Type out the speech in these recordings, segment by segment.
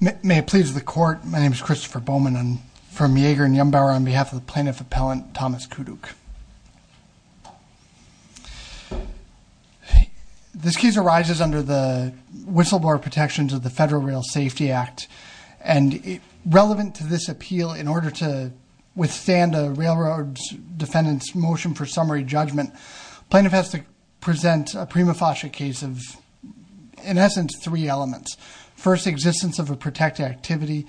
May it please the Court, my name is Christopher Bowman. I'm from Yeager and Yumbauer on behalf of the Plaintiff Appellant Thomas Kuduk. This case arises under the whistleblower protections of the Federal Rail Safety Act and relevant to this appeal in order to withstand a railroad's defendant's motion for summary judgment. Plaintiff has to present a prima facie case of in essence three elements. First, existence of a protected activity.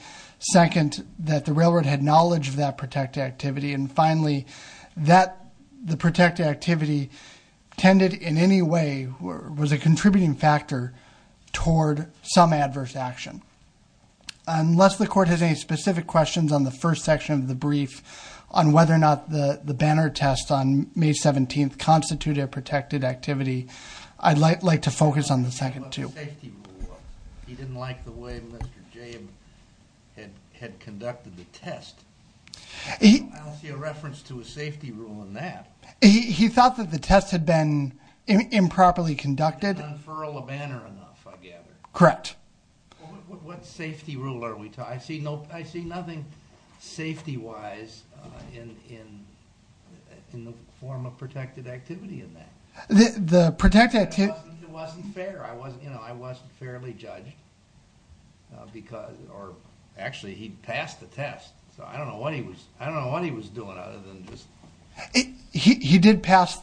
Second, that the railroad had knowledge of that protected activity. And finally, that the protected activity tended in any way was a contributing factor toward some adverse action. Unless the Court has any specific questions on the first section of the brief on whether or not the the banner test on May 17th constituted a protected activity, I'd like to focus on the second too. He didn't like the way Mr. James had conducted the test. I don't see a reference to a safety rule in that. He thought that the test had been What safety rule are we talking about? I see nothing safety-wise in the form of protected activity in that. The protected activity... It wasn't fair. I wasn't fairly judged because or actually he passed the test so I don't know what he was I don't know what he was doing other than just... He did pass...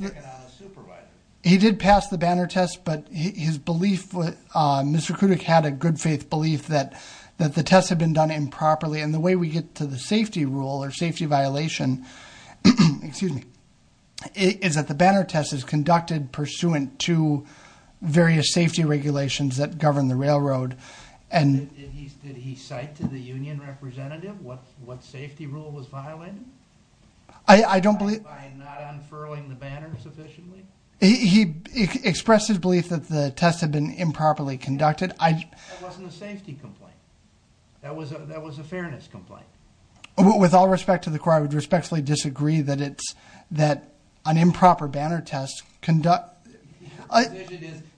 He did pass the banner test but his belief was Mr. Kuduk had a good faith belief that that the test had been done improperly and the way we get to the safety rule or safety violation, excuse me, is that the banner test is conducted pursuant to various safety regulations that govern the railroad and... Did he cite to the union representative what safety rule was violated? I don't believe... By not unfurling the banner sufficiently? That wasn't a safety complaint. That was a fairness complaint. With all respect to the court, I would respectfully disagree that it's that an improper banner test conduct...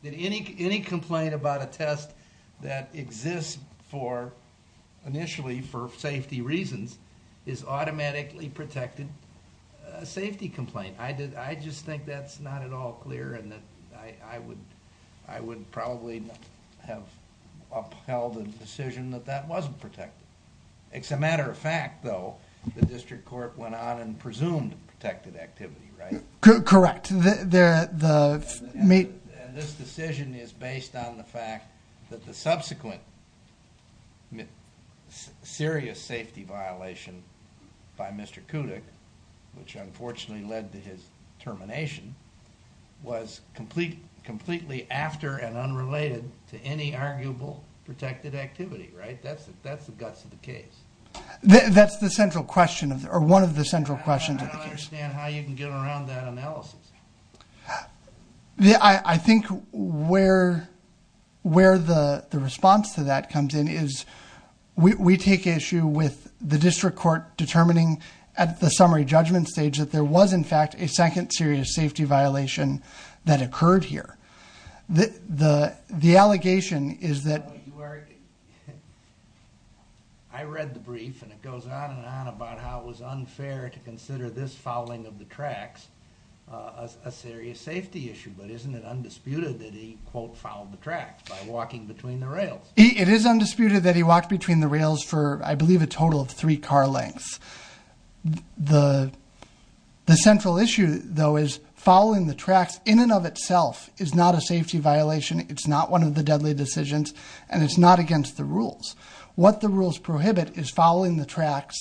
Any complaint about a test that exists for initially for safety reasons is automatically protected a safety complaint. I just think that's not at all clear and that I would probably have upheld a decision that that wasn't protected. It's a matter of fact though the district court went on and presumed protected activity, right? Correct. This decision is based on the fact that the subsequent serious safety violation by Mr. Kuduk, which unfortunately led to his termination, was completely after and unrelated to any arguable protected activity, right? That's the guts of the case. That's the central question or one of the central questions of the case. I don't understand how you can get around that analysis. I think where the response to that comes in is we take issue with the district court determining at the summary judgment stage that there was in fact a second serious safety violation that occurred here. The allegation is that... I read the brief and it goes on and on about how it was unfair to consider this fouling of the tracks a serious safety issue, but isn't it undisputed that he quote fouled the tracks by walking between the rails? It is undisputed that he walked between the rails for I believe a total of three car lengths. The central issue though is fouling the tracks in and of itself is not a safety violation. It's not one of the deadly decisions and it's not against the rules. What the rules prohibit is fouling the tracks,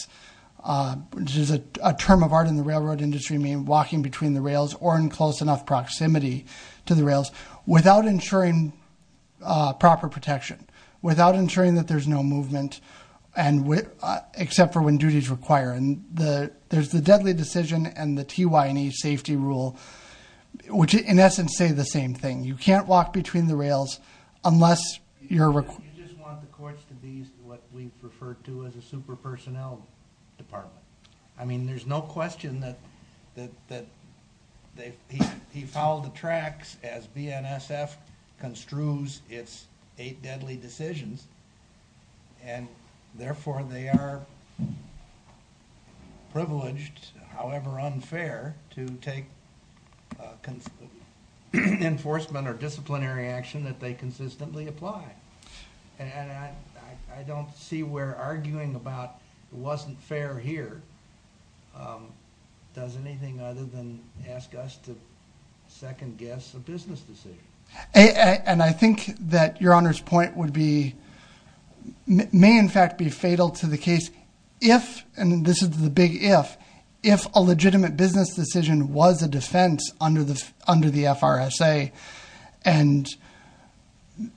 which is a term of art in the railroad industry, meaning walking between the rails or in close enough proximity to the rails without ensuring proper protection, without ensuring that there's no movement except for when duty is required. There's the deadly decision and the TY&E safety rule, which in essence say the same thing. You can't walk between the rails unless you're... You just want the courts to be what we refer to as a super personnel department. I mean there's no question that he fouled the tracks as BNSF construes its eight deadly decisions and therefore they are privileged, however unfair, to take enforcement or disciplinary action that they consistently apply. And I don't see where arguing about it wasn't fair here does anything other than ask us to second guess a business decision. And I think that your honor's point would be, may in fact be fatal to the case if, and this is the big if, if a legitimate business decision was a defense under the FRSA and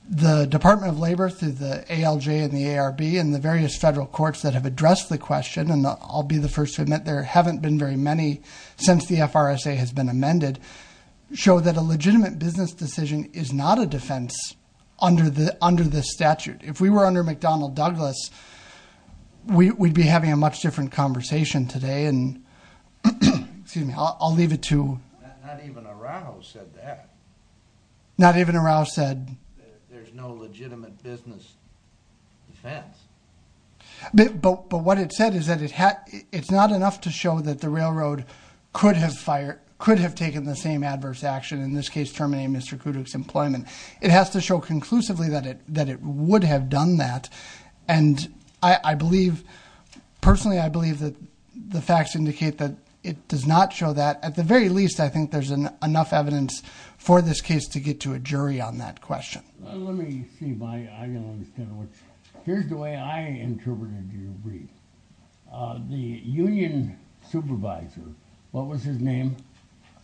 the Department of Labor through the ALJ and the ARB and the various federal courts that have addressed the question, and I'll be the first to admit there haven't been very many since the FRSA has been amended, show that a legitimate business decision is not a defense under the statute. If we were under McDonnell Douglas, we'd be having a much different conversation today and, excuse me, I'll leave it to... Not even Araujo said that. Not even Araujo said... There's no legitimate business defense. But what it said is that it's not enough to show that the railroad could have taken the same adverse action, in this case terminating Mr. Kuduk's employment, it has to show conclusively that it would have done that and I believe, personally I believe that the facts indicate that it does not show that. At the very least I think there's enough evidence for this case to get to a jury on that question. Let me see if I can understand what... Here's the way I interpreted your brief. The union supervisor, what was his name?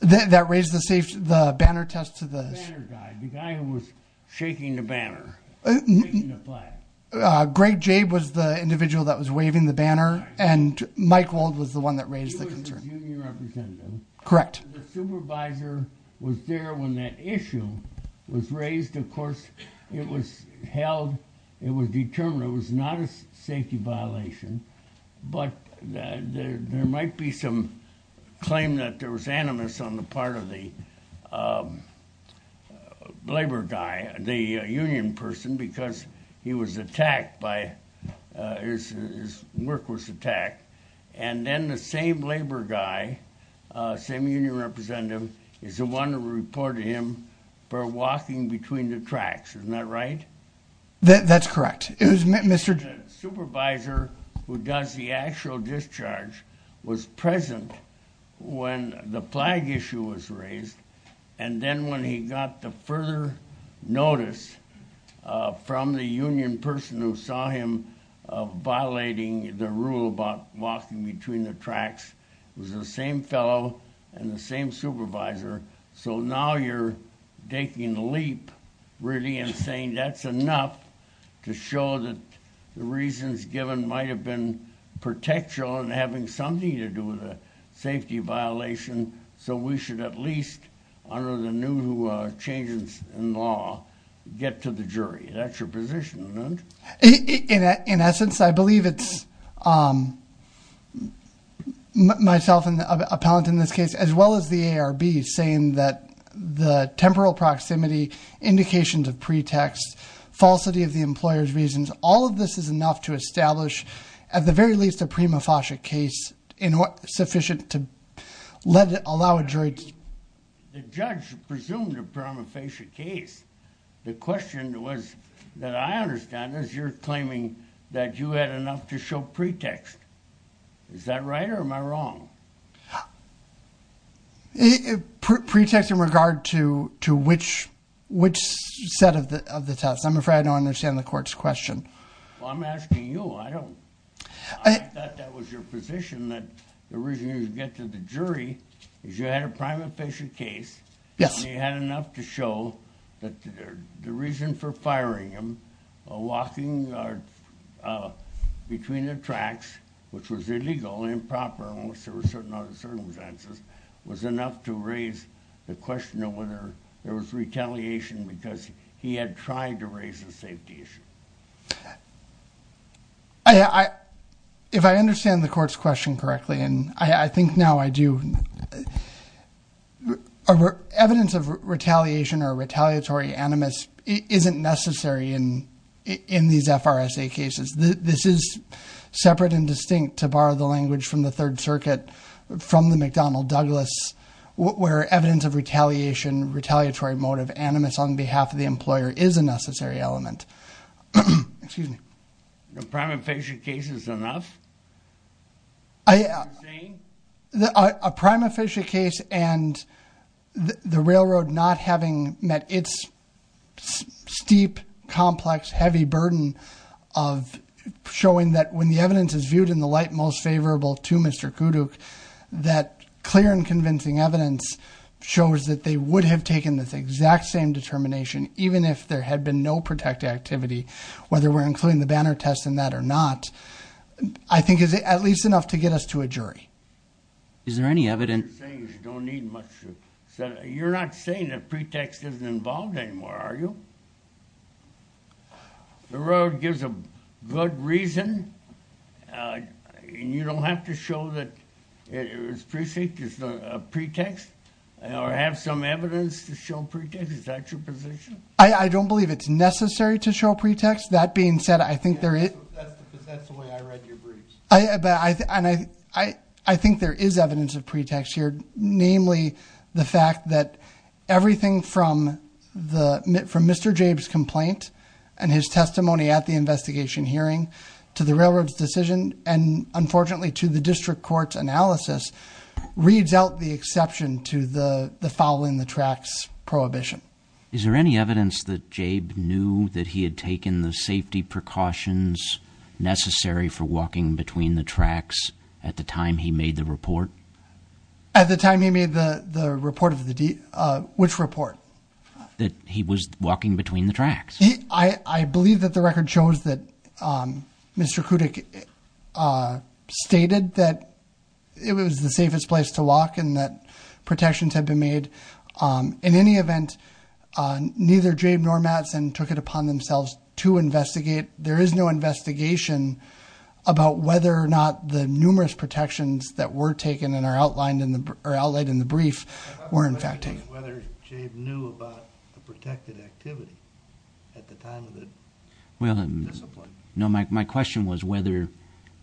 That raised the banner test to the... The banner guy, the guy who was shaking the banner, shaking the flag. Greg Jabe was the individual that was waving the banner and Mike Wald was the one that raised the concern. He was the union representative. Correct. The supervisor was there when that issue was raised. Of course it was held, it was determined, it was not a safety violation. But there might be some claim that there was animus on the part of the labor guy, the union person, because he was attacked by... his work was attacked. And then the same labor guy, same union representative, is the one who reported him for walking between the tracks. Isn't that right? That's correct. The supervisor who does the actual discharge was present when the flag issue was raised And then when he got the further notice from the union person who saw him violating the rule about walking between the tracks, it was the same fellow and the same supervisor. So now you're taking the leap, really, and saying that's enough to show that the reasons given might have been something to do with a safety violation, so we should at least, under the new changes in law, get to the jury. That's your position, isn't it? In essence, I believe it's myself, a paladin in this case, as well as the ARB, saying that the temporal proximity, indications of pretext, falsity of the employer's reasons, all of this is enough to establish, at the very least, a prima facie case sufficient to allow a jury to... The judge presumed a prima facie case. The question was, that I understand, is you're claiming that you had enough to show pretext. Is that right or am I wrong? Pretext in regard to which set of the test. I'm afraid I don't understand the court's question. Well, I'm asking you. I thought that was your position, that the reason you get to the jury is you had a prima facie case, and you had enough to show that the reason for firing him, walking between the tracks, which was illegal, improper, unless there were certain circumstances, was enough to raise the question of whether there was retaliation because he had tried to raise a safety issue. If I understand the court's question correctly, and I think now I do, evidence of retaliation or retaliatory animus isn't necessary in these FRSA cases. This is separate and distinct, to borrow the language from the Third Circuit, from the McDonnell-Douglas, where evidence of retaliation, retaliatory motive, animus on behalf of the employer is a necessary element. The prima facie case is enough? A prima facie case and the railroad not having met its steep, complex, heavy burden of showing that when the evidence is viewed in the light most favorable to Mr. Kuduk, that clear and convincing evidence shows that they would have taken this exact same determination, even if there had been no protective activity, whether we're including the banner test in that or not. I think it's at least enough to get us to a jury. Is there any evidence? You're not saying that pretext isn't involved anymore, are you? The road gives a good reason and you don't have to show that it's a pretext or have some evidence to show pretext? Is that your position? I don't believe it's necessary to show pretext. That's the way I read your briefs. I think there is evidence of pretext here, namely the fact that everything from Mr. Jabe's complaint and his testimony at the investigation hearing to the railroad's decision and, unfortunately, to the district court's analysis reads out the exception to the following the tracts prohibition. Is there any evidence that Jabe knew that he had taken the safety precautions necessary for walking between the tracks at the time he made the report? At the time he made the report? Which report? That he was walking between the tracks. I believe that the record shows that Mr. Kuduk stated that it was the safest place to walk and that protections had been made. In any event, neither Jabe nor Mattson took it upon themselves to investigate. There is no investigation about whether or not the numerous protections that were taken and are outlined in the brief were, in fact, taken. I'm not sure whether Jabe knew about the protected activity at the time of the discipline. No, my question was whether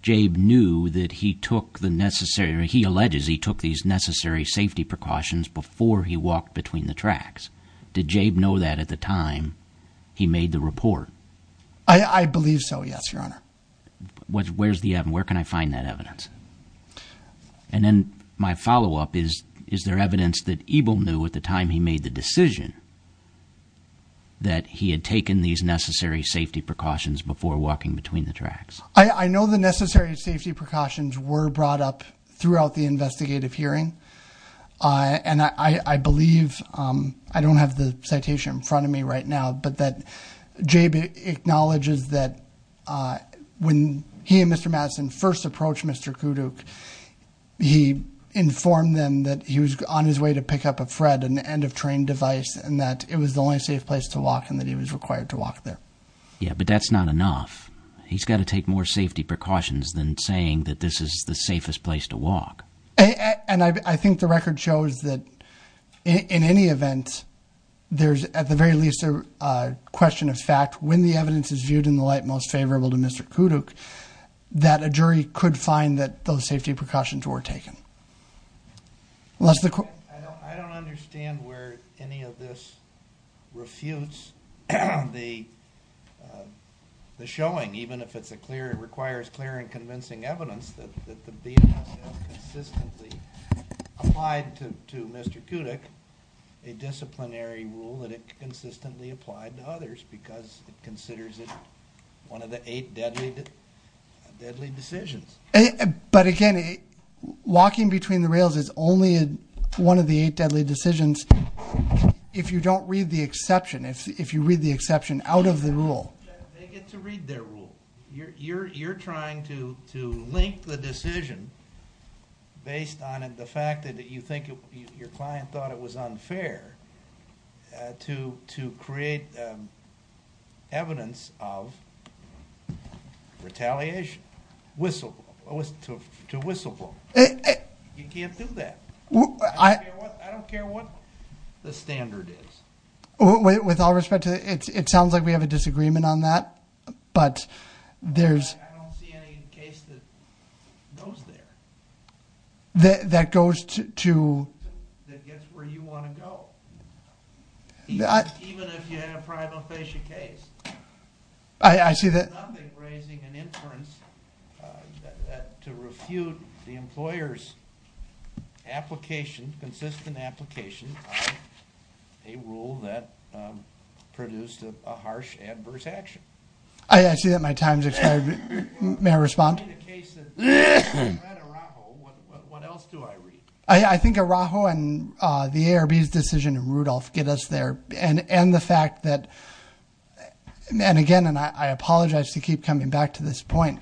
Jabe knew that he took the necessary, he alleges he took these necessary safety precautions before he walked between the tracks. Did Jabe know that at the time he made the report? I believe so, yes, Your Honor. Where's the evidence? Where can I find that evidence? And then my follow-up is, is there evidence that Ebel knew at the time he made the decision that he had taken these necessary safety precautions before walking between the tracks? I know the necessary safety precautions were brought up throughout the investigative hearing, and I believe, I don't have the citation in front of me right now, but that Jabe acknowledges that when he and Mr. Mattson first approached Mr. Kuduk, he informed them that he was on his way to pick up a FRED, an end-of-terrain device, and that it was the only safe place to walk and that he was required to walk there. Yeah, but that's not enough. He's got to take more safety precautions than saying that this is the safest place to walk. And I think the record shows that in any event, there's at the very least a question of fact, when the evidence is viewed in the light most favorable to Mr. Kuduk, that a jury could find that those safety precautions were taken. I don't understand where any of this refutes the showing, even if it requires clear and convincing evidence that the BSS consistently applied to Mr. Kuduk a disciplinary rule that it consistently applied to others because it considers it one of the eight deadly decisions. But again, walking between the rails is only one of the eight deadly decisions if you don't read the exception, if you read the exception out of the rule. They get to read their rule. You're trying to link the decision based on the fact that you think your client thought it was unfair to create evidence of retaliation, to whistleblow. You can't do that. I don't care what the standard is. With all respect, it sounds like we have a disagreement on that, but there's... I don't see any case that goes there. That goes to... That gets where you want to go, even if you have a prima facie case. I see that... I'm not raising an inference to refute the employer's application, consistent application, a rule that produced a harsh adverse action. I see that my time has expired. May I respond? In the case that you read Araujo, what else do I read? I think Araujo and the ARB's decision in Rudolph get us there, and the fact that... And again, and I apologize to keep coming back to this point,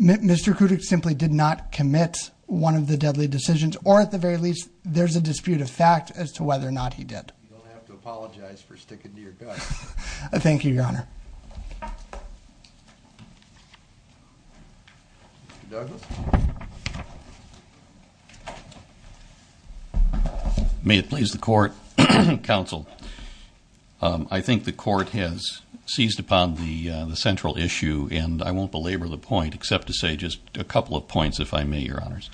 Mr. Kudyk simply did not commit one of the deadly decisions, or at the very least there's a dispute of fact as to whether or not he did. You'll have to apologize for sticking to your gut. Thank you, Your Honor. Mr. Douglas? May it please the Court, Counsel, I think the Court has seized upon the central issue, and I won't belabor the point except to say just a couple of points, if I may, Your Honors.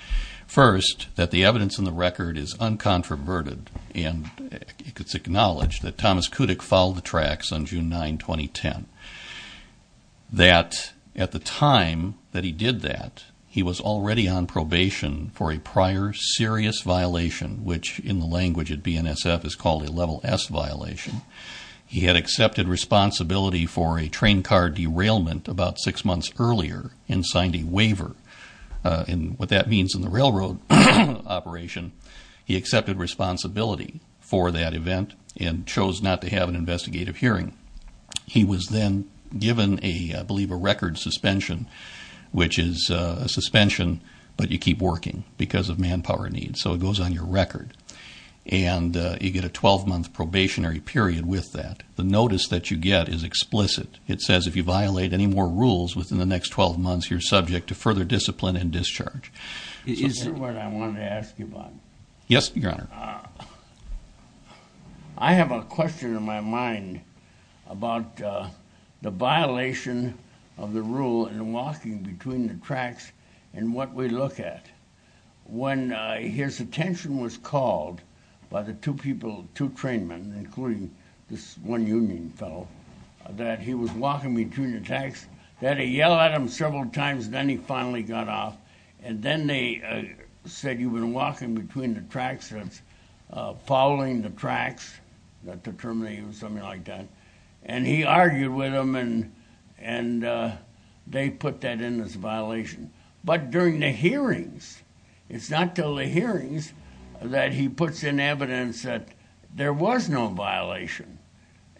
First, that the evidence in the record is uncontroverted, and it's acknowledged that Thomas Kudyk followed the tracks on June 9, 2010. That at the time that he did that, he was already on probation for a prior serious violation, which in the language at BNSF is called a Level S violation. He had accepted responsibility for a train car derailment about six months earlier and signed a waiver, and what that means in the railroad operation, he accepted responsibility for that event and chose not to have an investigative hearing. He was then given, I believe, a record suspension, which is a suspension, but you keep working because of manpower needs, so it goes on your record. And you get a 12-month probationary period with that. The notice that you get is explicit. It says if you violate any more rules within the next 12 months, you're subject to further discipline and discharge. Is that what I wanted to ask you about? Yes, Your Honor. I have a question in my mind about the violation of the rule in walking between the tracks and what we look at. When his attention was called by the two people, two train men, including this one union fellow, that he was walking between the tracks, that he yelled at him several times, then he finally got off, and then they said, you've been walking between the tracks since, following the tracks, not determining, something like that. And he argued with them, and they put that in as a violation. But during the hearings, it's not until the hearings that he puts in evidence that there was no violation.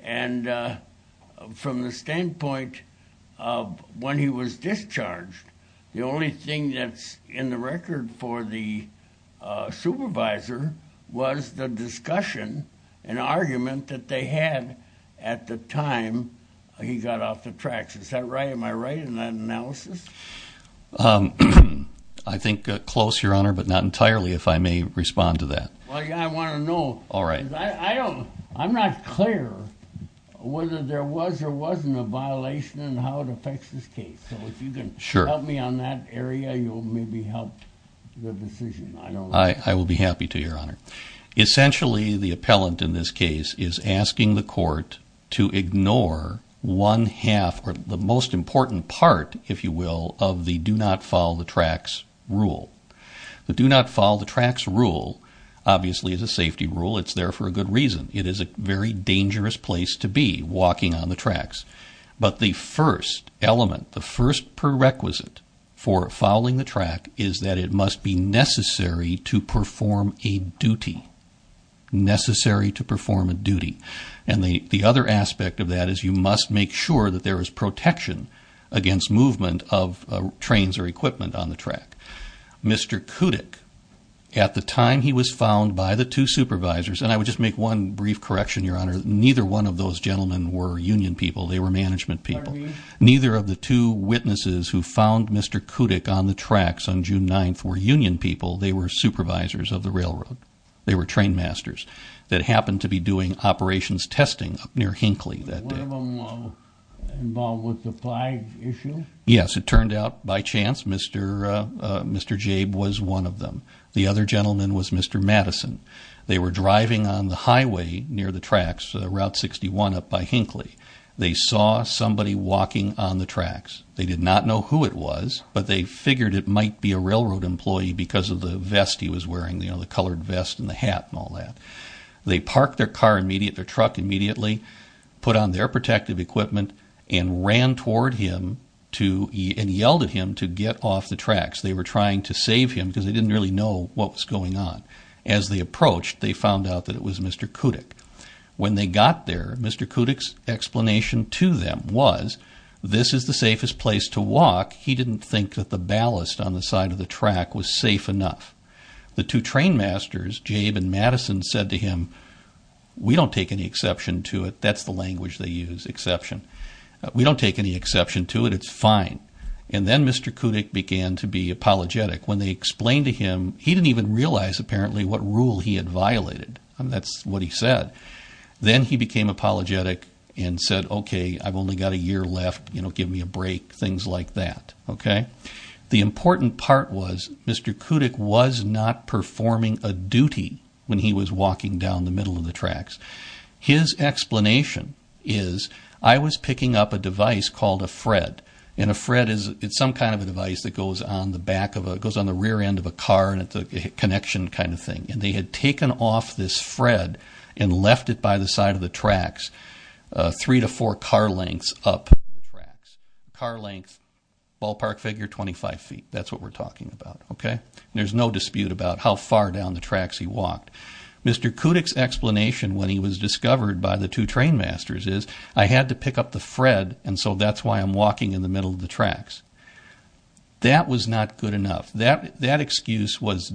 And from the standpoint of when he was discharged, the only thing that's in the record for the supervisor was the discussion and argument that they had at the time he got off the tracks. Is that right? Am I right in that analysis? I think close, Your Honor, but not entirely, if I may respond to that. Well, I want to know. I'm not clear whether there was or wasn't a violation and how it affects this case. So if you can help me on that area, you'll maybe help the decision. I will be happy to, Your Honor. Essentially, the appellant in this case is asking the court to ignore one half, or the most important part, if you will, of the do-not-follow-the-tracks rule. The do-not-follow-the-tracks rule, obviously, is a safety rule. It's there for a good reason. It is a very dangerous place to be, walking on the tracks. But the first element, the first prerequisite for following the track is that it must be necessary to perform a duty. Necessary to perform a duty. And the other aspect of that is you must make sure that there is protection against movement of trains or equipment on the track. Mr. Kudyk, at the time he was found by the two supervisors, and I would just make one brief correction, Your Honor, neither one of those gentlemen were union people. They were management people. Neither of the two witnesses who found Mr. Kudyk on the tracks on June 9th were union people. They were supervisors of the railroad. They were trainmasters that happened to be doing operations testing up near Hinkley that day. Was one of them involved with the flag issue? Yes. It turned out, by chance, Mr. Jabe was one of them. The other gentleman was Mr. Madison. They were driving on the highway near the tracks, Route 61 up by Hinkley. They saw somebody walking on the tracks. They did not know who it was, but they figured it might be a railroad employee because of the vest he was wearing, the colored vest and the hat and all that. They parked their car immediately, their truck immediately, put on their protective equipment, and ran toward him and yelled at him to get off the tracks. They were trying to save him because they didn't really know what was going on. As they approached, they found out that it was Mr. Kudyk. When they got there, Mr. Kudyk's explanation to them was, this is the safest place to walk. He didn't think that the ballast on the side of the track was safe enough. The two trainmasters, Jabe and Madison, said to him, we don't take any exception to it. That's the language they use, exception. We don't take any exception to it. It's fine. And then Mr. Kudyk began to be apologetic. When they explained to him, he didn't even realize apparently what rule he had violated. That's what he said. Then he became apologetic and said, okay, I've only got a year left. Give me a break, things like that. The important part was Mr. Kudyk was not performing a duty when he was walking down the middle of the tracks. His explanation is, I was picking up a device called a FRED. And a FRED is some kind of a device that goes on the rear end of a car and it's a connection kind of thing. And they had taken off this FRED and left it by the side of the tracks three to four car lengths up the tracks. Car length, ballpark figure, 25 feet. That's what we're talking about. There's no dispute about how far down the tracks he walked. Mr. Kudyk's explanation when he was discovered by the two trainmasters is, I had to pick up the FRED, and so that's why I'm walking in the middle of the tracks. That was not good enough. That excuse was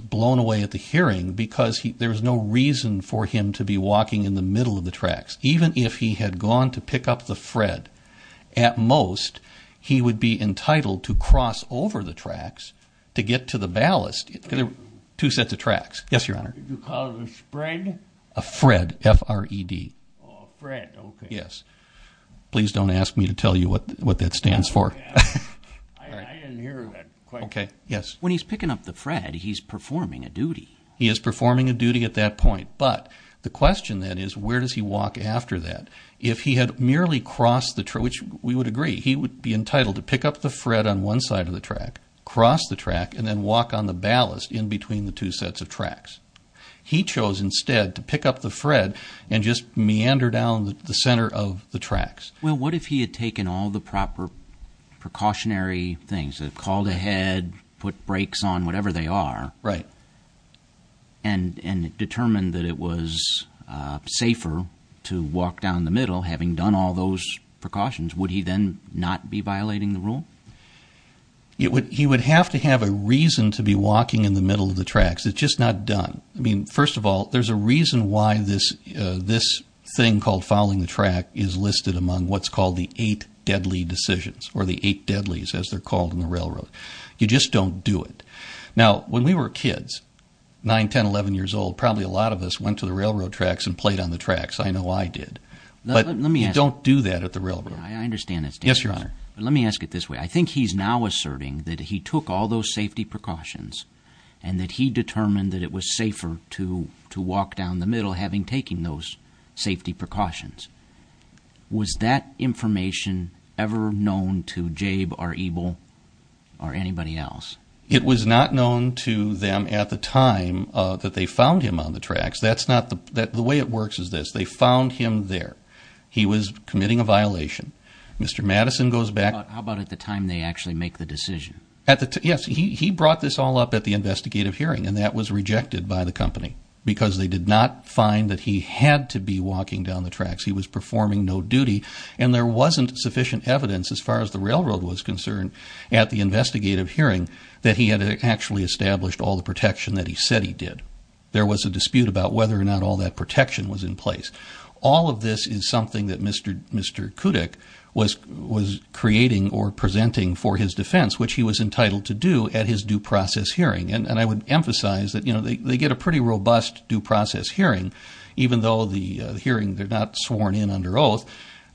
blown away at the hearing because there was no reason for him to be walking in the middle of the tracks. Even if he had gone to pick up the FRED, at most he would be entitled to cross over the tracks to get to the ballast, two sets of tracks. Yes, Your Honor. Did you call it a spread? A FRED, F-R-E-D. A FRED, okay. Yes. Please don't ask me to tell you what that stands for. I didn't hear that question. Okay, yes. When he's picking up the FRED, he's performing a duty. He is performing a duty at that point, but the question then is, where does he walk after that? If he had merely crossed the track, which we would agree, he would be entitled to pick up the FRED on one side of the track, cross the track, and then walk on the ballast in between the two sets of tracks. He chose instead to pick up the FRED and just meander down the center of the tracks. Well, what if he had taken all the proper precautionary things, called ahead, put brakes on, whatever they are, and determined that it was safer to walk down the middle, having done all those precautions? Would he then not be violating the rule? I mean, first of all, there's a reason why this thing called following the track is listed among what's called the eight deadly decisions or the eight deadlies as they're called in the railroad. You just don't do it. Now, when we were kids, 9, 10, 11 years old, probably a lot of us went to the railroad tracks and played on the tracks. I know I did. But you don't do that at the railroad. I understand that, Mr. Conner. Let me ask it this way. I think he's now asserting that he took all those safety precautions and that he determined that it was safer to walk down the middle having taken those safety precautions. Was that information ever known to Jabe or Ebel or anybody else? It was not known to them at the time that they found him on the tracks. The way it works is this. They found him there. He was committing a violation. Mr. Madison goes back. How about at the time they actually make the decision? Yes, he brought this all up at the investigative hearing, and that was rejected by the company because they did not find that he had to be walking down the tracks. He was performing no duty, and there wasn't sufficient evidence, as far as the railroad was concerned, at the investigative hearing that he had actually established all the protection that he said he did. There was a dispute about whether or not all that protection was in place. All of this is something that Mr. Kudyk was creating or presenting for his defense, which he was entitled to do at his due process hearing. I would emphasize that they get a pretty robust due process hearing, even though the hearing they're not sworn in under oath.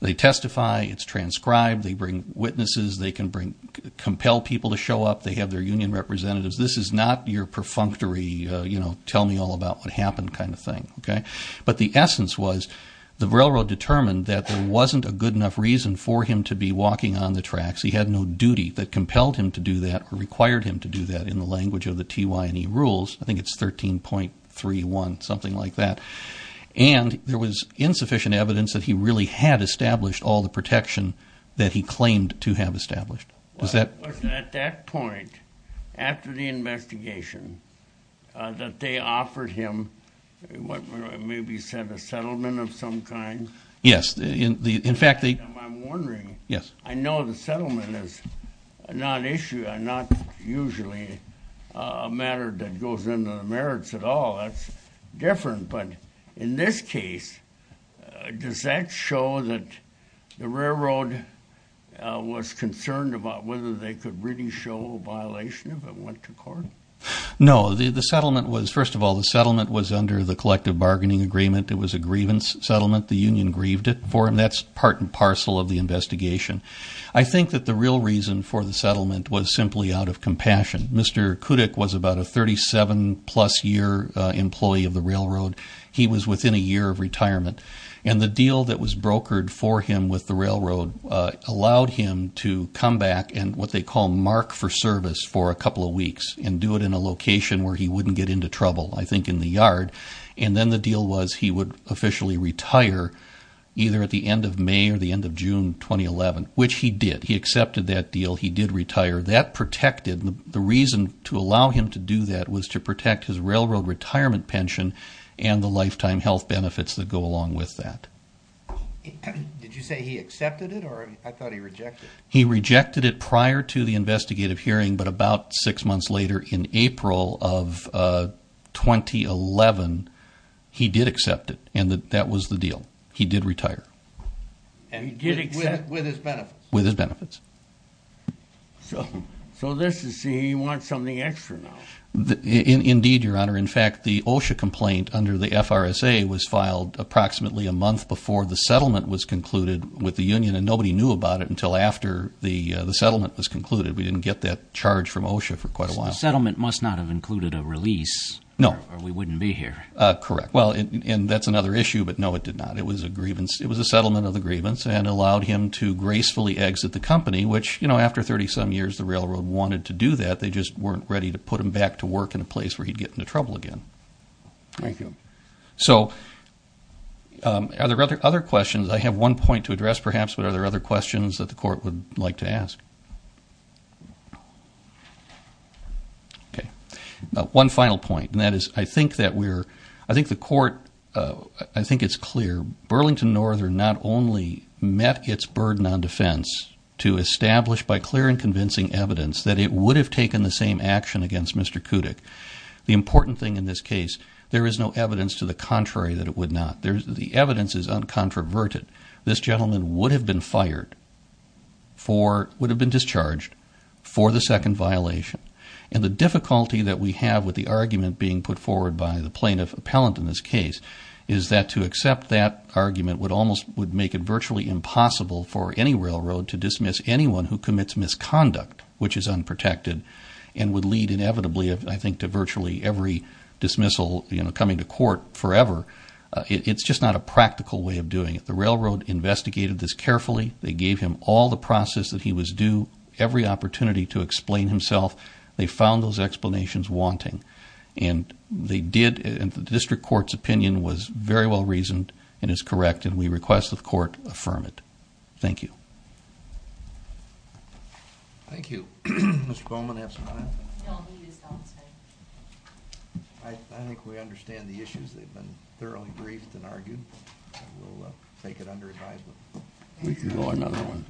They testify. It's transcribed. They bring witnesses. They can compel people to show up. They have their union representatives. This is not your perfunctory tell-me-all-about-what-happened kind of thing. But the essence was the railroad determined that there wasn't a good enough reason for him to be walking on the tracks. He had no duty that compelled him to do that or required him to do that in the language of the TYNE rules. I think it's 13.31, something like that. And there was insufficient evidence that he really had established all the protection that he claimed to have established. Was that? Was it at that point, after the investigation, that they offered him what may be said a settlement of some kind? Yes. In fact, they... I'm wondering. Yes. I know the settlement is not usually a matter that goes into the merits at all. That's different. But in this case, does that show that the railroad was concerned about whether they could really show a violation if it went to court? No. The settlement was, first of all, the settlement was under the collective bargaining agreement. It was a grievance settlement. The union grieved it for him. That's part and parcel of the investigation. I think that the real reason for the settlement was simply out of compassion. Mr. Kudyk was about a 37-plus-year employee of the railroad. He was within a year of retirement. And the deal that was brokered for him with the railroad allowed him to come back and what they call mark for service for a couple of weeks and do it in a location where he wouldn't get into trouble, I think in the yard. And then the deal was he would officially retire either at the end of May or the end of June 2011, which he did. He accepted that deal. He did retire. That protected him. The reason to allow him to do that was to protect his railroad retirement pension and the lifetime health benefits that go along with that. Did you say he accepted it or I thought he rejected it? He rejected it prior to the investigative hearing, but about six months later in April of 2011, he did accept it, and that was the deal. He did retire. With his benefits? With his benefits. So this is saying he wants something extra now. Indeed, Your Honor. In fact, the OSHA complaint under the FRSA was filed approximately a month before the settlement was concluded with the union, and nobody knew about it until after the settlement was concluded. We didn't get that charge from OSHA for quite a while. The settlement must not have included a release. No. Or we wouldn't be here. Correct. Well, and that's another issue, but, no, it did not. It was a settlement of the grievance and allowed him to gracefully exit the company, which, you know, after 30-some years, the railroad wanted to do that. They just weren't ready to put him back to work in a place where he'd get into trouble again. Thank you. So are there other questions? I have one point to address perhaps, but are there other questions that the court would like to ask? Okay. One final point, and that is I think that we're ‑‑ I think the court, I think it's clear, Burlington Northern not only met its burden on defense to establish by clear and convincing evidence that it would have taken the same action against Mr. Kudik. The important thing in this case, there is no evidence to the contrary that it would not. The evidence is uncontroverted. This gentleman would have been fired for, would have been discharged for the second violation. And the difficulty that we have with the argument being put forward by the plaintiff appellant in this case is that to accept that argument would almost ‑‑ would make it virtually impossible for any railroad to dismiss anyone who commits misconduct, which is unprotected, and would lead inevitably, I think, to virtually every dismissal, you know, coming to court forever. It's just not a practical way of doing it. The railroad investigated this carefully. They gave him all the process that he was due, every opportunity to explain himself. They found those explanations wanting. And they did, and the district court's opinion was very well reasoned and is correct, and we request that the court affirm it. Thank you. Thank you. Mr. Bowman, do you have some comments? No, he is outside. I think we understand the issues. They've been thoroughly briefed and argued. We'll take it under advisement. We can go to another one.